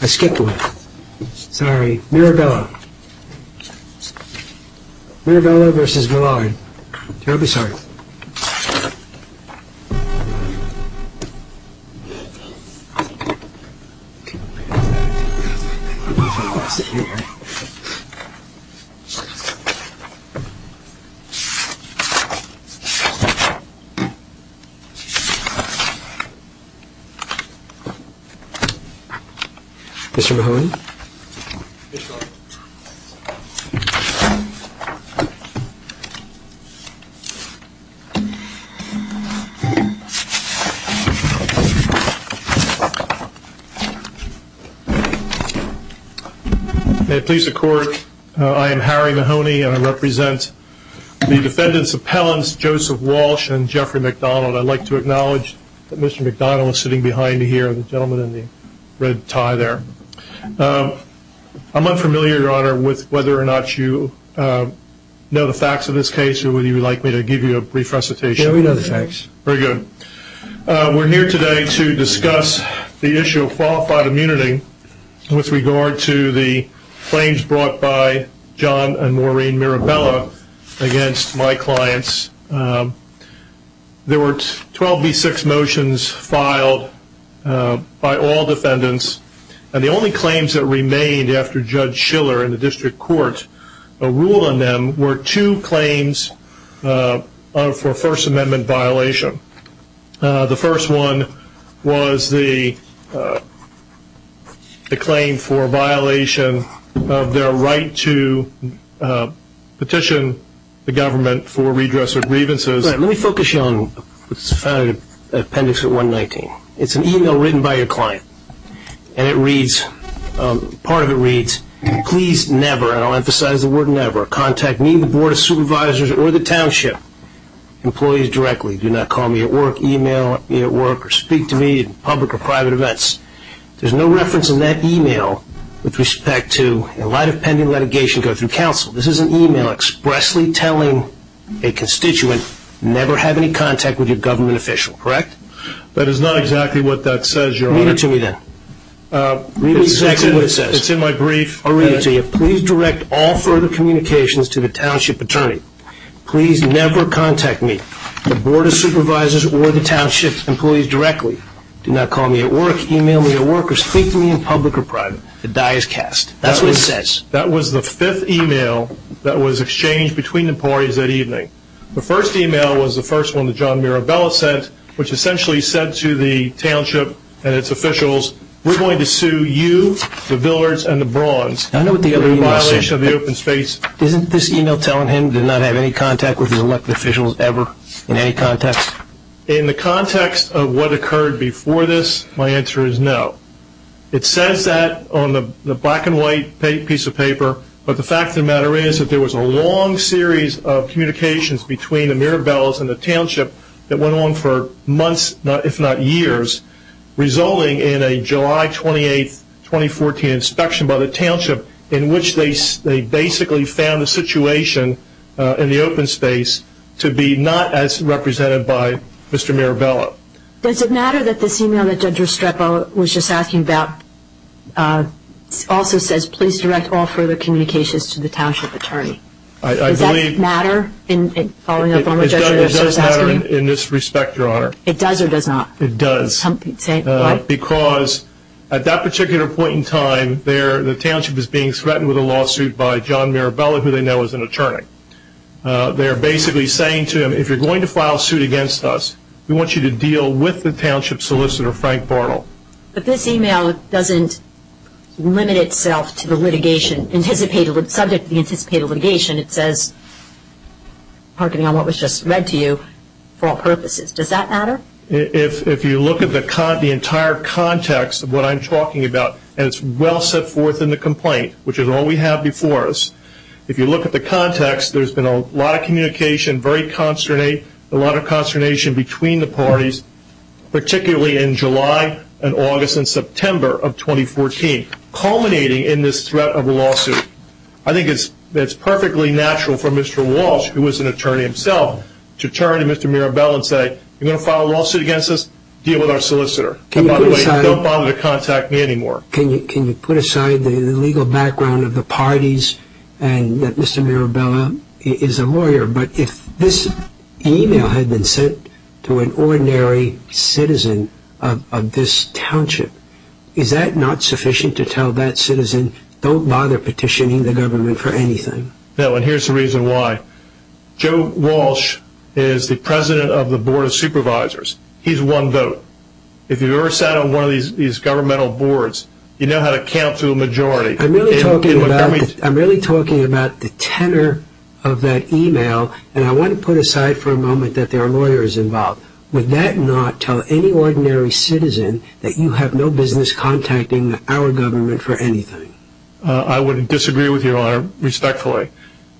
I skipped one. Sorry. Mirabella. Mirabella v. Villard. I'm terribly sorry. Mr. Mahoney? May it please the court, I am Harry Mahoney and I represent the defendant's appellants Joseph Walsh and Jeffrey MacDonald. I'd like to acknowledge that Mr. MacDonald is sitting behind me here, the gentleman in the red tie there. I'm unfamiliar, your honor, with whether or not you know the facts of this case or would you like me to give you a brief recitation? Yeah, we know the facts. Very good. We're here today to discuss the issue of qualified immunity with regard to the claims brought by John and Maureen Mirabella against my clients. There were 12 v. 6 motions filed by all defendants and the only claims that remained after Judge Schiller in the district court ruled on them were two claims for First Amendment violation. The first one was the claim for violation of their right to petition the government for redress of grievances. Let me focus you on what's found in appendix 119. It's an email written by your client and it reads, part of it reads, please never, and I'll emphasize the word never, contact me, the board of supervisors, or the township employees directly. Do not call me at work, email me at work, or speak to me at public or private events. There's no reference in that email with respect to, in light of pending litigation, go through counsel. This is an email from a constituent. Never have any contact with your government official. Correct? That is not exactly what that says, your honor. Read it to me then. Read it to me. It's in my brief. I'll read it to you. Please direct all further communications to the township attorney. Please never contact me, the board of supervisors, or the township employees directly. Do not call me at work, email me at work, or speak to me in public or private. The die is cast. That's what it says. That was the fifth email that was exchanged between the parties that evening. The first email was the first one that John Mirabella sent, which essentially said to the township and its officials, we're going to sue you, the Villards, and the Brawns for the violation of the open space. Isn't this email telling him to not have any contact with his elected officials ever, in any context? In the context of what occurred before this, my answer is no. It says that on the black and white piece of paper, but the fact of the matter is that there was a long series of communications between the Mirabellas and the township that went on for months, if not years, resulting in a July 28, 2014 inspection by the township in which they basically found the situation in the open space to be not as represented by Mr. Mirabella. Does it matter that this email further communications to the township attorney? Does that matter? It does matter in this respect, Your Honor. It does or does not? It does. Because at that particular point in time, the township is being threatened with a lawsuit by John Mirabella, who they know is an attorney. They're basically saying to him, if you're going to file a suit against us, we want you to deal with the township solicitor, Frank Bartle. But this email doesn't limit itself to the litigation. Subject to the anticipated litigation, it says what was just read to you for all purposes. Does that matter? If you look at the entire context of what I'm talking about, and it's well set forth in the complaint, which is all we have before us, if you look at the context, there's been a lot of communication, a lot of consternation between the parties, particularly in July and August and September of 2014, culminating in this threat of a lawsuit. I think it's perfectly natural for Mr. Walsh, who is an attorney himself, to turn to Mr. Mirabella and say, if you're going to file a lawsuit against us, deal with our solicitor. And by the way, don't bother to contact me anymore. Can you put aside the legal background of the parties and that Mr. Mirabella is a lawyer, but if this email had been sent to an ordinary citizen of this township, is that not sufficient to tell that citizen, don't bother petitioning the government for anything? No, and here's the reason why. Joe Walsh is the president of the Board of Supervisors. He's one vote. If you've ever sat on one of these governmental boards, you know how to count to a majority. I'm really talking about the tenor of that email, and I want to put aside for a moment that there are lawyers involved. Would that not tell any ordinary citizen that you have no business contacting our government for anything? I would disagree with you, Your Honor, respectfully.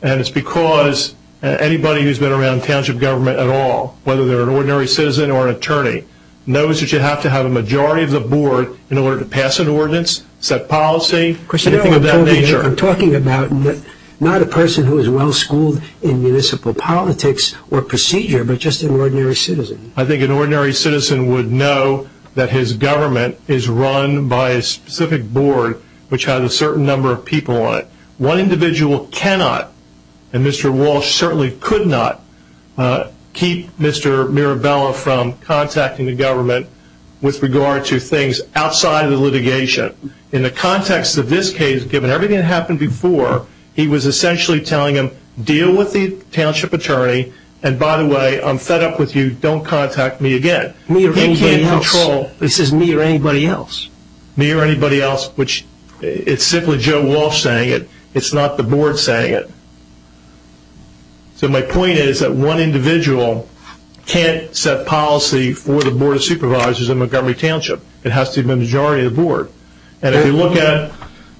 And it's because anybody who's been around township government at all, whether they're an ordinary citizen or an attorney, knows that you have to have a majority of the board in order to pass an ordinance, set policy... I'm talking about not a person who is well-schooled in municipal politics or procedure, but just an ordinary citizen. I think an ordinary citizen would know that his government is run by a specific board which has a certain number of people on it. One individual cannot, and Mr. Walsh certainly could not, keep Mr. Mirabella from contacting the government with regard to things outside of the litigation. In the context of this case, given everything that happened before, he was essentially telling him, deal with the township attorney, and by the way, I'm fed up with you, don't contact me again. Me or anybody else. This is me or anybody else. Me or anybody else, which it's simply Joe Walsh saying it. It's not the board saying it. So my point is that one individual can't set policy for the board of supervisors in the way of the board. And if you look at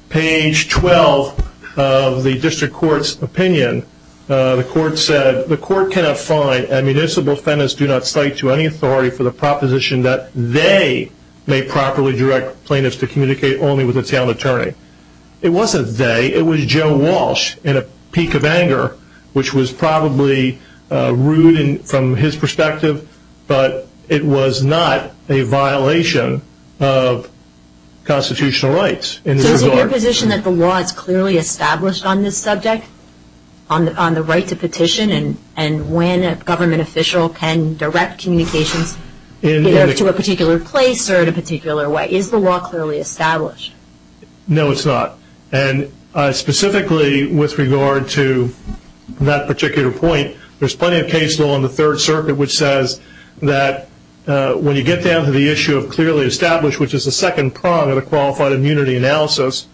page 12 of the district court's opinion, the court said, the court cannot find and municipal defendants do not cite to any authority for the proposition that they may properly direct plaintiffs to communicate only with the town attorney. It wasn't they, it was Joe Walsh in a peak of anger, which was probably rude from his of constitutional rights in this regard. So is it your position that the law is clearly established on this subject? On the right to petition and when a government official can direct communications either to a particular place or in a particular way? Is the law clearly established? No it's not. And specifically with regard to that particular point, there's plenty of case law in the third circuit which says that when you get down to the issue of clearly established, which is the second prong of the qualified immunity analysis,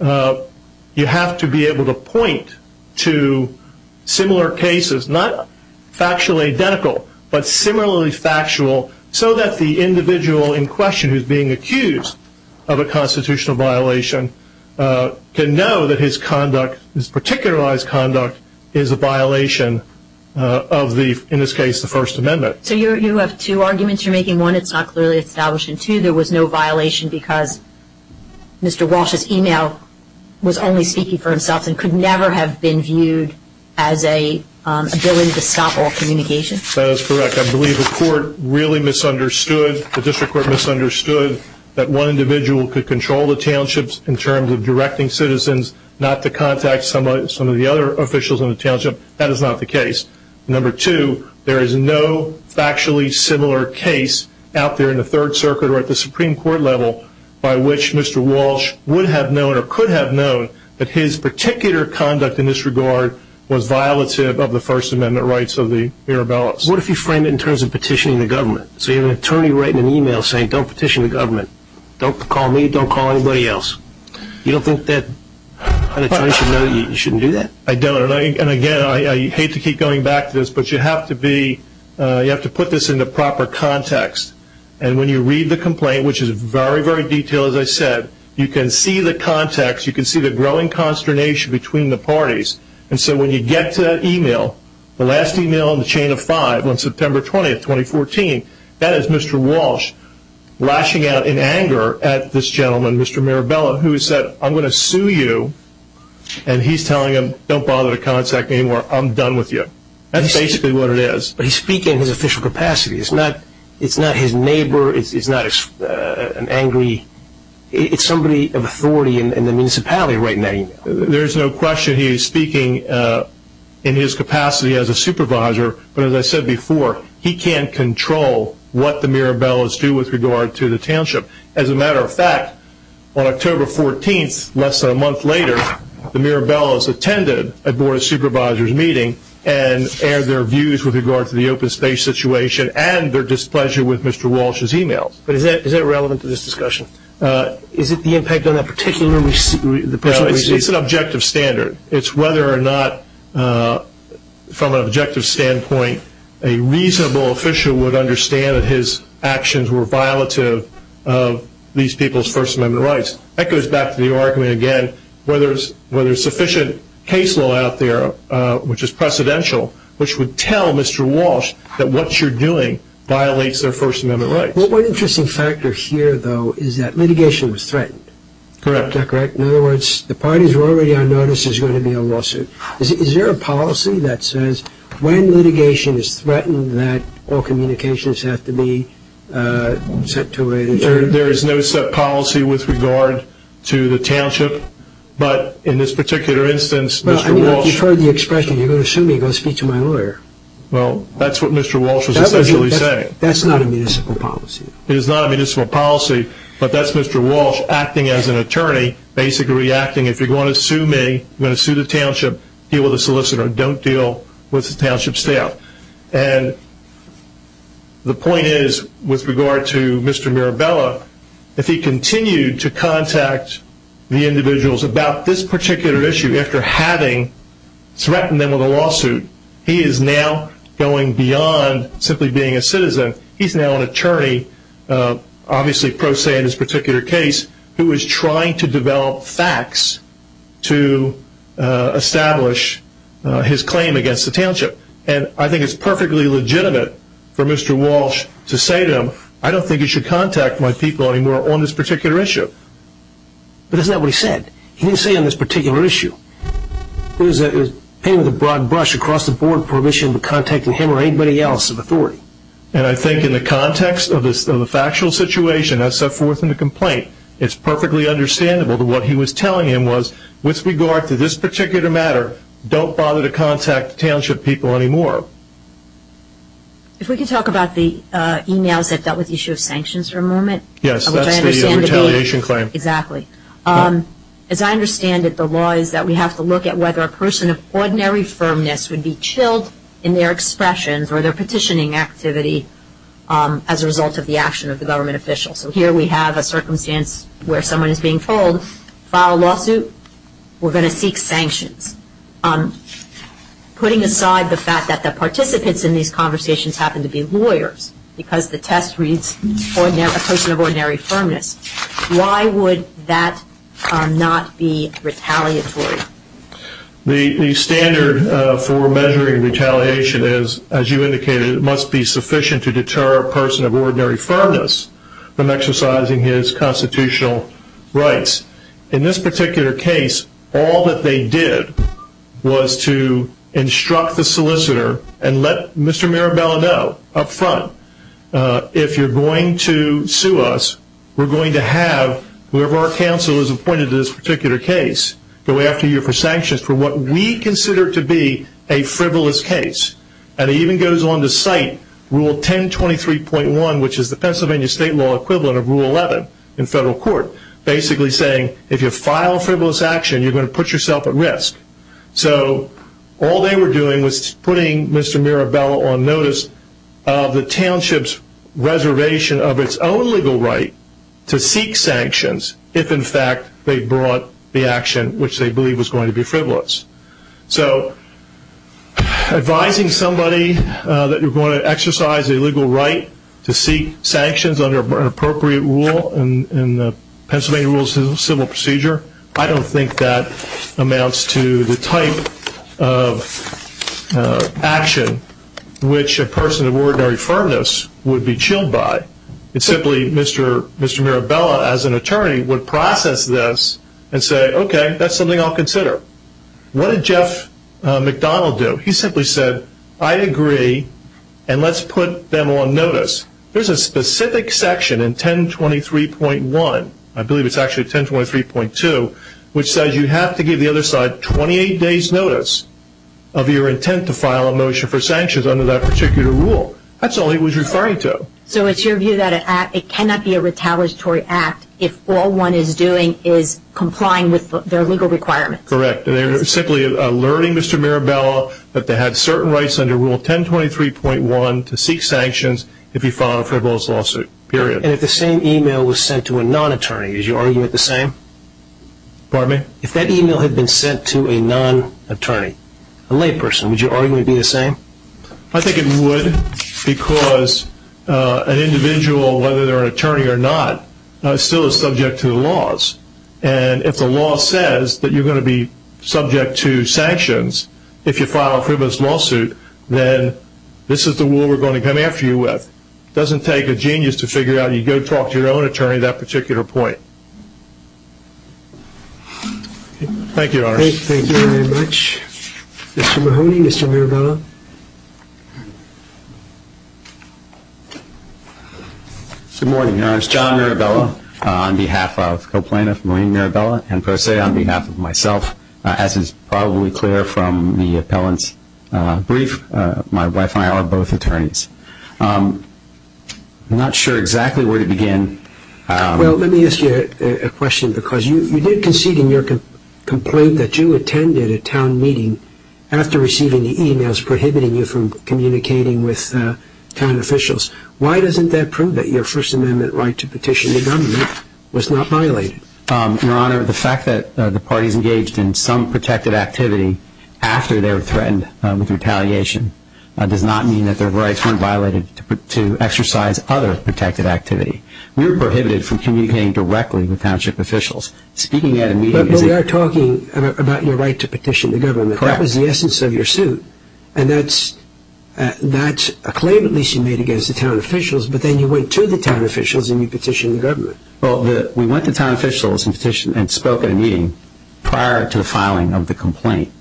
you have to be able to point to similar cases, not factually identical, but similarly factual so that the individual in question who's being accused of a constitutional violation can know that his conduct, his particularized conduct, is a violation of the, in this case, the First Amendment. So you have two arguments you're making. One, it's not clearly established. And two, there was no violation because Mr. Walsh's email was only speaking for himself and could never have been viewed as an ability to stop all communication? That is correct. I believe the court really misunderstood, the district court misunderstood, that one individual could control the townships in terms of directing citizens not to contact some of the other officials in the township. That is not the case. Number two, there is no factually similar case out there in the third circuit or at the Supreme Court level by which Mr. Walsh would have known or could have known that his particular conduct in this regard was violative of the First Amendment rights of the Mirabellas. What if you frame it in terms of petitioning the government? So you have an attorney writing an email saying, don't petition the government, don't call me, don't call anybody else. You don't think that attorney should know that you shouldn't do that? I don't. And again, I hate to keep going back to this, but you have to be, you have to put this in the proper context. And when you read the complaint, which is very, very detailed, as I said, you can see the context, you can see the growing consternation between the parties. And so when you get to that email, the last email in the chain of five on September 20th, 2014, that is Mr. Walsh lashing out in anger at this gentleman, Mr. Mirabella, who said, I'm going to sue you. And he's telling him, don't bother to contact me anymore. I'm done with you. That's basically what it is. But he's speaking in his official capacity. It's not, it's not his neighbor. It's not an angry, it's somebody of authority in the municipality right now. There's no question he's speaking in his capacity as a supervisor. But as I said before, he can't control what the Mirabellas do with regard to the township. As a matter of fact, on October 14th, less than a month later, the Mirabellas attended a Board of Supervisors meeting and aired their views with regard to the open space situation and their displeasure with Mr. Walsh's emails. But is that, is that relevant to this discussion? Is it the impact on that particular, the person who received it? No, it's an objective standard. It's whether or not, from an objective standpoint, a reasonable official would understand that his actions were violative of these people's First Amendment rights. That goes back to the argument again, whether there's sufficient case law out there, which is precedential, which would tell Mr. Walsh that what you're doing violates their First Amendment rights. Well, one interesting factor here, though, is that litigation was threatened. Correct. Is that correct? In other words, the parties were already on notice there's going to be a lawsuit. Is there a policy that says when litigation is threatened, that all communications have to be set to a rate of two? There is no set policy with regard to the township. But in this particular instance, Mr. Walsh... Well, I mean, if you've heard the expression, you're going to sue me, go speak to my lawyer. Well, that's what Mr. Walsh was essentially saying. That's not a municipal policy. It is not a municipal policy, but that's Mr. Walsh acting as an attorney, basically reacting, if you're going to sue me, you're going to sue the township, deal with a solicitor, don't deal with the township staff. And the point is, with regard to Mr. Mirabella, if he continued to contact the individuals about this particular issue after having threatened them with a and he's now an attorney, obviously pro se in this particular case, who is trying to develop facts to establish his claim against the township. And I think it's perfectly legitimate for Mr. Walsh to say to him, I don't think you should contact my people anymore on this particular issue. But isn't that what he said? He didn't say on this particular issue. It was painted with a broad brush across the board, permission to contact him or anybody else of authority. And I think in the context of the factual situation, I set forth in the complaint, it's perfectly understandable that what he was telling him was, with regard to this particular matter, don't bother to contact the township people anymore. If we could talk about the emails that dealt with the issue of sanctions for a moment. Yes, that's the retaliation claim. Exactly. As I understand it, the law is that we have to look at whether a person of ordinary firmness would be chilled in their expressions or their petitioning activity as a result of the action of the government official. So here we have a circumstance where someone is being told, file a lawsuit, we're going to seek sanctions. Putting aside the fact that the participants in these conversations happen to be lawyers, because the test reads a person of ordinary firmness, why would that not be retaliatory? The standard for measuring retaliation is, as you indicated, it must be sufficient to deter a person of ordinary firmness from exercising his constitutional rights. In this particular case, all that they did was to instruct the solicitor and let Mr. Mirabella know up front, if you're going to sue us, we're going to have whoever our counsel is appointed to this particular case go after you for sanctions for what we consider to be a frivolous case. And it even goes on to cite Rule 1023.1, which is the Pennsylvania state law equivalent of Rule 11 in federal court, basically saying if you file frivolous action, you're going to put yourself at risk. So all they were doing was putting Mr. Mirabella on notice of the township's reservation of its own legal right to seek sanctions if, in fact, they brought the action which they believed was going to be frivolous. So advising somebody that you're going to exercise a legal right to seek sanctions under an appropriate rule in the Pennsylvania Rules of Civil Procedure, I don't think that amounts to the type of action which a person of ordinary firmness would be chilled by. It's simply Mr. Mirabella as an attorney would process this and say, okay, that's something I'll consider. What did Jeff McDonald do? He simply said, I agree, and let's put them on notice. There's a specific section in 1023.1, I believe it's actually 1023.2, which says you have to give the other side 28 days notice of your intent to file a motion for sanctions under that particular rule. That's all he was referring to. So it's your view that it cannot be a retaliatory act if all one is doing is complying with their legal requirement? Correct. And they're simply alerting Mr. Mirabella that they had certain rights under Rule 1023.1 to seek sanctions if he filed a frivolous lawsuit, period. And if the same email was sent to a non-attorney, would you argue it the same? Pardon me? If that email had been sent to a non-attorney, a layperson, would you argue it would be the same? I think it would, because an individual, whether they're an attorney or not, still is subject to the laws. And if the law says that you're going to be subject to sanctions if you file a frivolous lawsuit, then this is the rule we're going to come after you with. Doesn't take a genius to figure out you go talk to your own attorney at that particular point. Thank you, Your Honor. Thank you very much. Mr. Mahoney, Mr. Mirabella. Good morning, Your Honor. It's John Mirabella on behalf of Co-Plaintiff Maureen Mirabella and Per Se on behalf of myself. As is probably clear from the appellant's brief, my wife and I are both attorneys. I'm not sure exactly where to begin. Well, let me ask you a question, because you did concede in your complaint that you attended a town meeting after receiving the e-mails prohibiting you from communicating with town officials. Why doesn't that prove that your First Amendment right to petition the government was not violated? Your Honor, the fact that the parties engaged in some protective activity after they were threatened with retaliation does not mean that their rights weren't violated to exercise other protective activity. We were prohibited from communicating directly with township officials. Speaking at a meeting is a... We are talking about your right to petition the government. Correct. That was the essence of your suit, and that's a claim at least you made against the town officials, but then you went to the town officials and you petitioned the government. We went to town officials and spoke at a meeting prior to the filing of the complaint,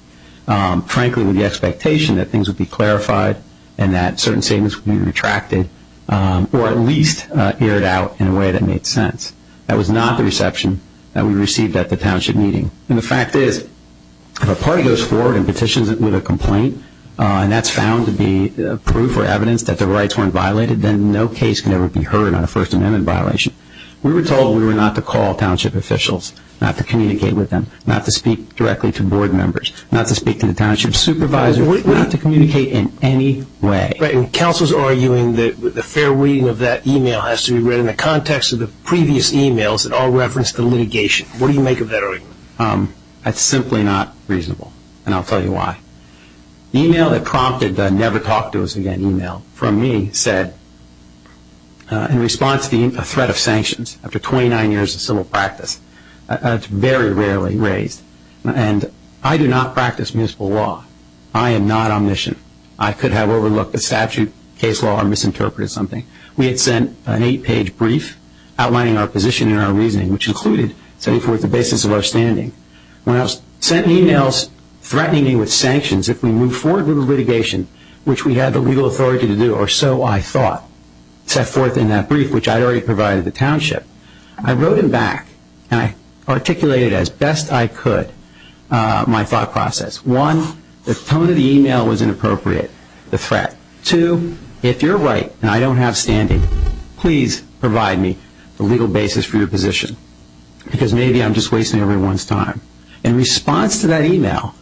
frankly with the expectation that things would be clarified and that certain statements would be retracted or at least aired out in a way that made sense. That was not the reception that we received at the township meeting. The fact is, if a party goes forward and petitions with a complaint, and that's found to be proof or evidence that the rights weren't violated, then no case can ever be heard on a First Amendment violation. We were told we were not to call township officials, not to communicate with them, not to speak directly to board members, not to speak to the township supervisor, not to communicate in any way. Counselors are arguing that the fair reading of that e-mail has to be read in the context of the previous e-mails that all referenced the litigation. What do you make of that argument? That's simply not reasonable, and I'll tell you why. The e-mail that prompted the never talk to us again e-mail from me said, in response to a threat of sanctions after 29 years of civil practice, and it's very rarely raised, and I do not practice municipal law. I am not omniscient. I could have overlooked a statute, case law, or misinterpreted something. We had sent an eight-page brief outlining our position and our reasoning, which included setting forth the basis of our standing. When I was sending e-mails threatening me with sanctions if we move forward with the litigation, which we had the legal authority to do, or so I thought, set forth in that brief, which I had already provided the township, I wrote them back, and I articulated as best I could my thought process. One, the tone of the e-mail was inappropriate, the threat. Two, if you're right and I don't have standing, please provide me the legal basis for your position because maybe I'm just wasting everyone's time. In response to that e-mail,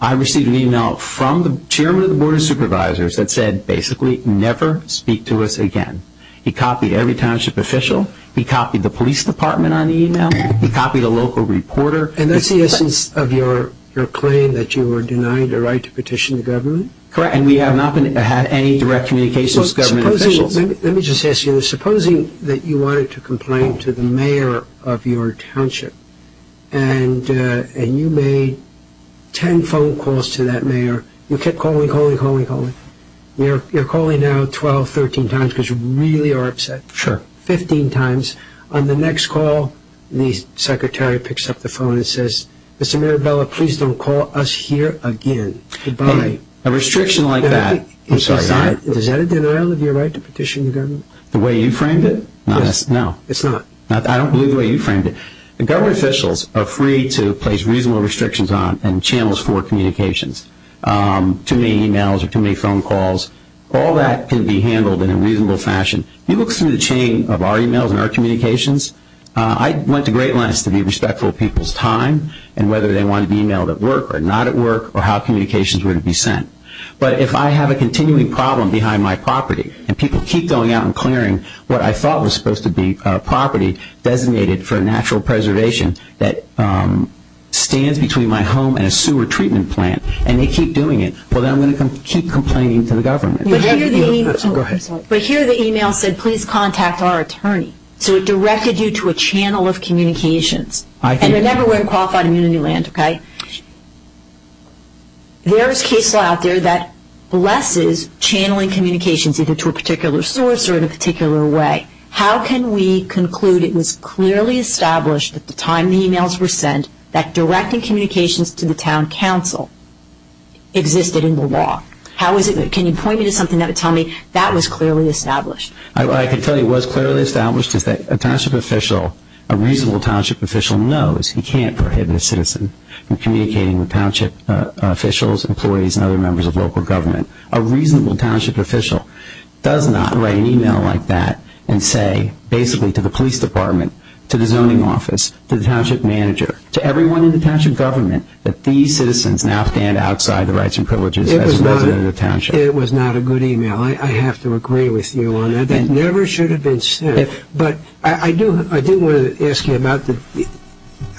I received an e-mail from the chairman of the board of supervisors that said, basically, never speak to us again. He copied every township official, he copied the police department on the e-mail, he copied a local reporter. And that's the essence of your claim that you were denied a right to petition the government? Correct. And we have not had any direct communications with government officials? Let me just ask you, supposing that you wanted to complain to the mayor of your township and you made ten phone calls to that mayor, you kept calling, calling, calling, calling. You're calling now 12, 13 times because you really are upset. Sure. 15 times. On the next call, the secretary picks up the phone and says, Mr. Mirabella, please don't call us here again. Goodbye. Okay. A restriction like that. I'm sorry. Is that a denial of your right to petition the government? The way you framed it? Yes. No. It's not. I don't believe the way you framed it. Government officials are free to place reasonable restrictions on and channels for communications. Too many e-mails or too many phone calls, all that can be handled in a reasonable fashion. If you look through the chain of our e-mails and our communications, I went to great lengths to be respectful of people's time and whether they wanted to be e-mailed at work or not at work or how communications were to be sent. If I have a continuing problem behind my property and people keep going out and clearing what I thought was supposed to be property designated for natural preservation that stands between my home and a sewer treatment plant and they keep doing it, then I'm going to keep complaining to the government. Go ahead. But here the e-mail said, please contact our attorney, so it directed you to a channel of communications. I did. Remember, we're in qualified immunity land, okay? There is case law out there that blesses channeling communications either to a particular source or in a particular way. How can we conclude it was clearly established at the time the e-mails were sent that directing communications to the town council existed in the law? How is it? Can you point me to something that would tell me that was clearly established? I can tell you it was clearly established because a township official, a reasonable township official knows he can't prohibit a citizen from communicating with township officials, employees, and other members of local government. A reasonable township official does not write an e-mail like that and say basically to the police department, to the zoning office, to the township manager, to everyone in the township government that these citizens now stand outside the rights and privileges as a resident of the township. It was not a good e-mail. I have to agree with you on that. It never should have been sent. But I do want to ask you about, did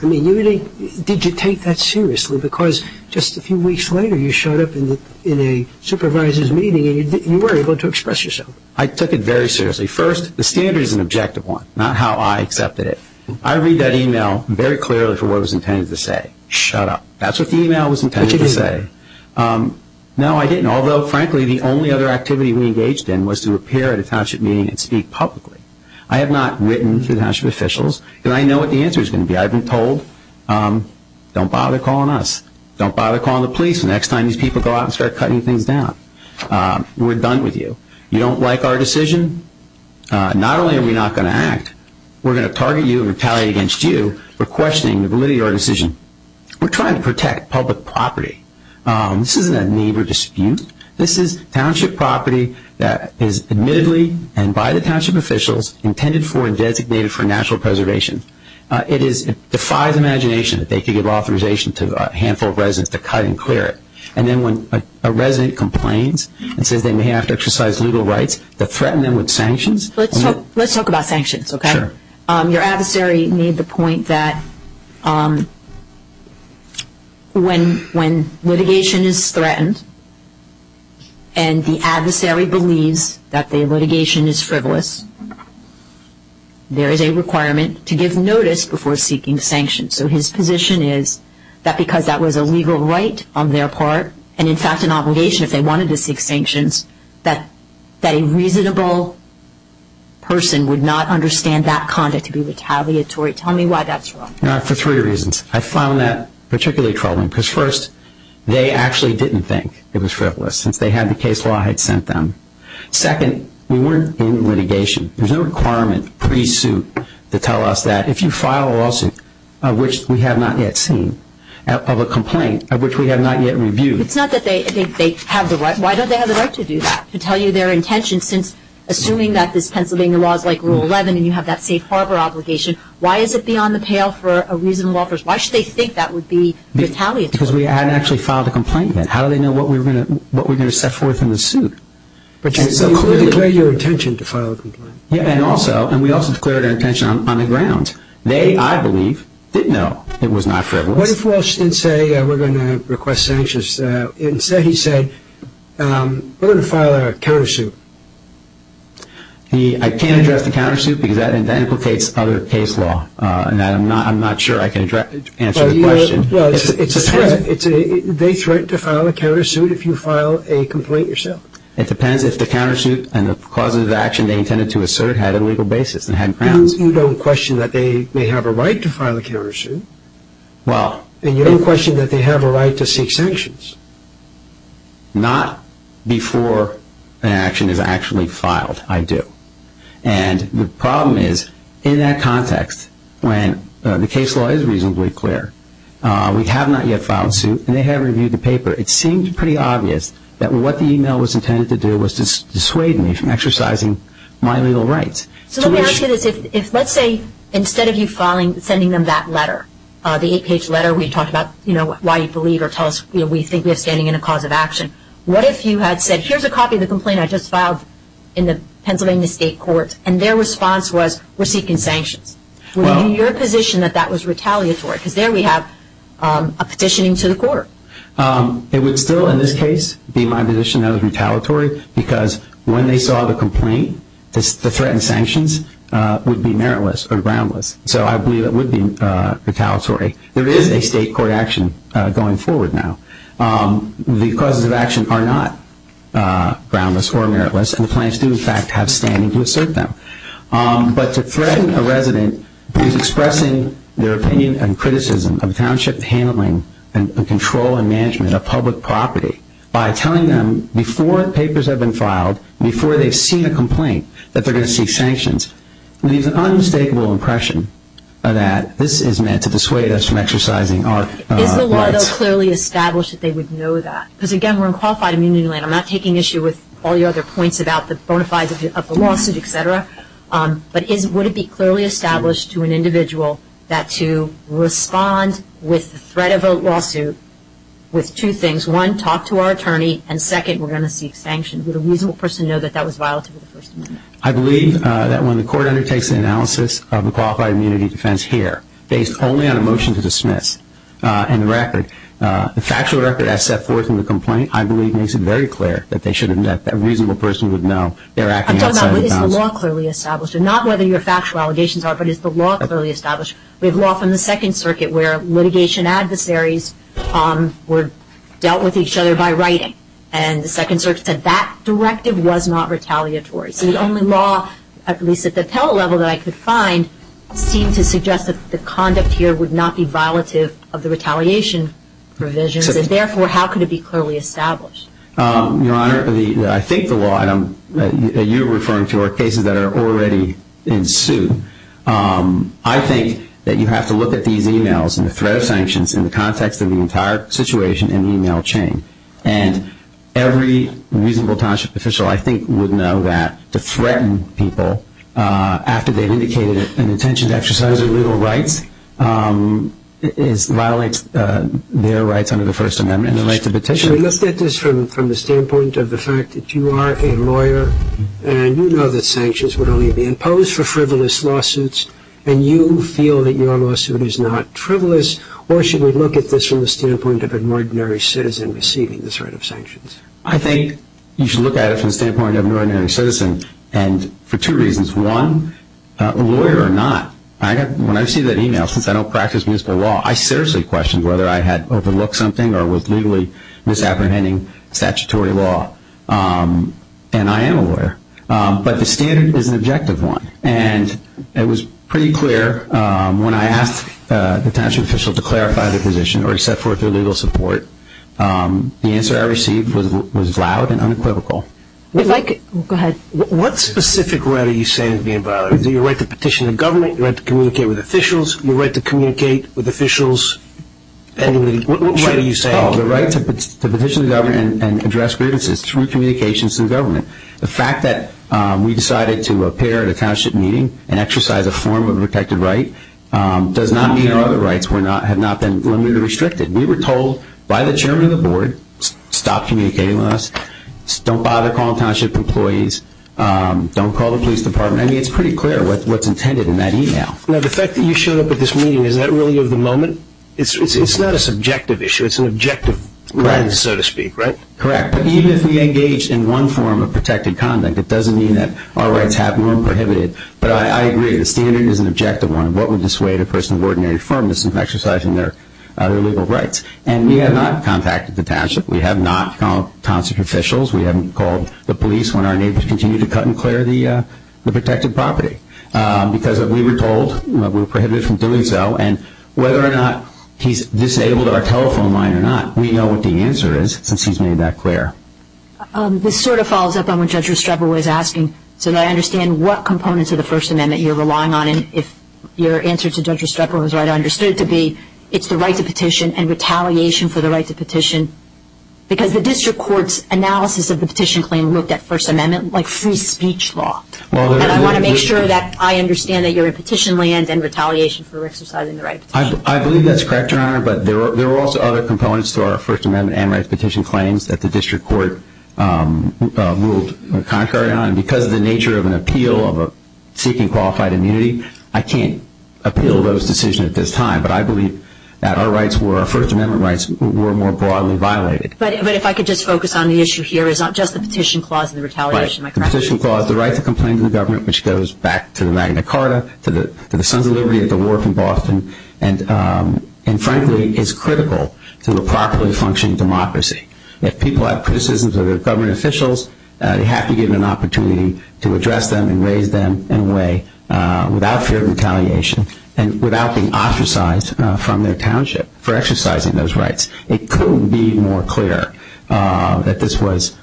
you take that seriously because just a few weeks later you showed up in a supervisor's meeting and you were able to express yourself? I took it very seriously. First, the standard is an objective one, not how I accepted it. I read that e-mail very clearly for what it was intended to say, shut up. That's what the e-mail was intended to say. No I didn't. Although frankly the only other activity we engaged in was to appear at a township meeting and speak publicly. I have not written to the township officials and I know what the answer is going to be. I've been told, don't bother calling us, don't bother calling the police the next time these people go out and start cutting things down. We're done with you. You don't like our decision? Not only are we not going to act, we're going to target you and retaliate against you for questioning the validity of our decision. We're trying to protect public property. This isn't a need or dispute. This is township property that is admittedly and by the township officials intended for and designated for national preservation. It defies imagination that they could give authorization to a handful of residents to cut and clear it. And then when a resident complains and says they may have to exercise legal rights to threaten them with sanctions. Let's talk about sanctions. Your adversary made the point that when litigation is threatened and the adversary believes that the litigation is frivolous, there is a requirement to give notice before seeking sanctions. So his position is that because that was a legal right on their part, and in fact an individual person would not understand that conduct to be retaliatory. Tell me why that's wrong. For three reasons. I found that particularly troubling because first, they actually didn't think it was frivolous since they had the case law had sent them. Second, we weren't in litigation. There's no requirement pre-suit to tell us that if you file a lawsuit, which we have not yet seen, of a complaint of which we have not yet reviewed. It's not that they think they have the right, why don't they have the right to do that? To tell you their intention since, assuming that this Pennsylvania law is like Rule 11 and you have that safe harbor obligation, why is it beyond the pale for a reasonable officer? Why should they think that would be retaliatory? Because we hadn't actually filed a complaint yet. How do they know what we're going to set forth in the suit? But you declared your intention to file a complaint. And also, and we also declared our intention on the ground. They, I believe, did know it was not frivolous. What if Walsh didn't say we're going to request sanctions? Instead, he said, we're going to file a countersuit. I can't address the countersuit because that implicates other case law, and I'm not sure I can answer the question. They threaten to file a countersuit if you file a complaint yourself. It depends if the countersuit and the cause of the action they intended to assert had a legal basis and had grounds. You don't question that they may have a right to file a countersuit, and you don't question that they have a right to seek sanctions. Not before an action is actually filed, I do. And the problem is, in that context, when the case law is reasonably clear, we have not yet filed a suit, and they haven't reviewed the paper, it seemed pretty obvious that what the email was intended to do was to dissuade me from exercising my legal rights. So let me ask you this. If, let's say, instead of you filing, sending them that letter, the eight-page letter we have, why you believe or tell us, you know, we think we have standing in a cause of action, what if you had said, here's a copy of the complaint I just filed in the Pennsylvania State Courts, and their response was, we're seeking sanctions? Would you be in your position that that was retaliatory, because there we have a petitioning to the court? It would still, in this case, be my position that it was retaliatory, because when they saw the complaint, the threatened sanctions would be meritless or groundless. So I believe it would be retaliatory. There is a state court action going forward now. The causes of action are not groundless or meritless, and the plaintiffs do, in fact, have standing to assert them. But to threaten a resident who is expressing their opinion and criticism of township handling and control and management of public property by telling them before the papers have been filed, before they've seen a complaint, that they're going to seek sanctions, leaves an unmistakable impression that this is meant to dissuade us from exercising our rights. Is the law, though, clearly established that they would know that? Because, again, we're in qualified immunity land. I'm not taking issue with all your other points about the bona fides of the lawsuit, etc. But would it be clearly established to an individual that to respond with the threat of a lawsuit with two things, one, talk to our attorney, and second, we're going to seek sanctions. Would a reasonable person know that that was violative of the First Amendment? I believe that when the court undertakes an analysis of the qualified immunity defense here, based only on a motion to dismiss and the record, the factual record as set forth in the complaint, I believe makes it very clear that they should have met, that a reasonable person would know they're acting outside of the bounds. I'm talking about, is the law clearly established? Not whether your factual allegations are, but is the law clearly established? We have law from the Second Circuit where litigation adversaries dealt with each other by writing. And the Second Circuit said that directive was not retaliatory. So the only law, at least at the appellate level that I could find, seemed to suggest that the conduct here would not be violative of the retaliation provisions, and therefore, how could it be clearly established? Your Honor, I think the law item that you're referring to are cases that are already in suit. I think that you have to look at these emails and the threat of sanctions in the context of the entire situation and email chain. And every reasonable township official, I think, would know that to threaten people after they've indicated an intention to exercise their legal rights violates their rights under the First Amendment in the light of the petition. So we look at this from the standpoint of the fact that you are a lawyer and you know that sanctions would only be imposed for frivolous lawsuits, and you feel that your lawsuit is not frivolous. Or should we look at this from the standpoint of an ordinary citizen receiving this threat of sanctions? I think you should look at it from the standpoint of an ordinary citizen, and for two reasons. One, a lawyer or not, when I see that email, since I don't practice municipal law, I seriously question whether I had overlooked something or was legally misapprehending statutory law. And I am a lawyer. But the standard is an objective one. And it was pretty clear when I asked the township official to clarify their position or to set forth their legal support, the answer I received was loud and unequivocal. What specific right are you saying is being violated? Is it your right to petition the government, your right to communicate with officials, your right to communicate with officials, and what right are you saying? The right to petition the government and address grievances through communications to the government. The fact that we decided to appear at a township meeting and exercise a form of a protected right does not mean our other rights have not been limited or restricted. We were told by the chairman of the board, stop communicating with us. Don't bother calling township employees. Don't call the police department. I mean, it's pretty clear what's intended in that email. Now, the fact that you showed up at this meeting, is that really of the moment? It's not a subjective issue. It's an objective one, so to speak, right? Correct. But even if we engage in one form of protected conduct, it doesn't mean that our rights have been prohibited. But I agree. The standard is an objective one. What would dissuade a person of ordinary firmness from exercising their legal rights? And we have not contacted the township. We have not called township officials. We haven't called the police when our neighbors continue to cut and clear the protected property. Because we were told we were prohibited from doing so, and whether or not he's disabled our telephone line or not, we know what the answer is, since he's made that clear. This sort of follows up on what Judge Restrepo was asking, so that I understand what components of the First Amendment you're relying on. If your answer to Judge Restrepo is right, I understood it to be, it's the right to petition and retaliation for the right to petition. Because the district court's analysis of the petition claim looked at First Amendment like free speech law. And I want to make sure that I understand that you're in petition land and retaliation for exercising the right to petition. I believe that's correct, Your Honor. But there are also other components to our First Amendment and rights petition claims that the district court ruled contrary on. Because of the nature of an appeal of seeking qualified immunity, I can't appeal those decisions at this time. But I believe that our rights were, our First Amendment rights were more broadly violated. But if I could just focus on the issue here, it's not just the petition clause and the retaliation. Right. The petition clause, the right to complain to the government, which goes back to the And frankly, it's critical to a properly functioning democracy. If people have criticisms of their government officials, they have to give them an opportunity to address them and raise them in a way without fear of retaliation and without being ostracized from their township for exercising those rights. It couldn't be more clear that this was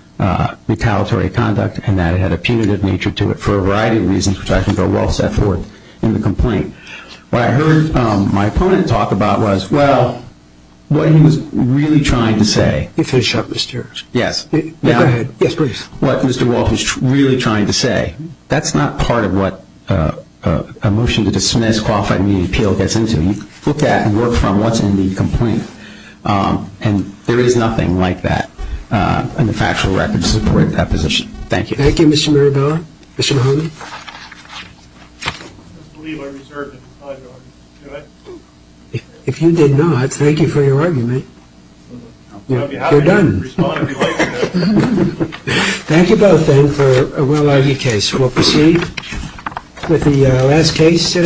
retaliatory conduct and that it had a punitive nature to it for a variety of reasons, which I think are well set forth in the complaint. What I heard my opponent talk about was, well, what he was really trying to say. Can you finish up, Mr. Harris? Yes. Go ahead. Yes, please. What Mr. Walton is really trying to say. That's not part of what a motion to dismiss qualified immunity appeal gets into. You look at and work from what's in the complaint. And there is nothing like that in the factual record to support that position. Thank you. Thank you, Mr. Mirabella. Mr. Mahoney? I believe I reserved to define your argument. Do I? If you did not, thank you for your argument. You're done. I'll be happy to respond if you like. Thank you both then for a well-argued case. We'll proceed with the last case today.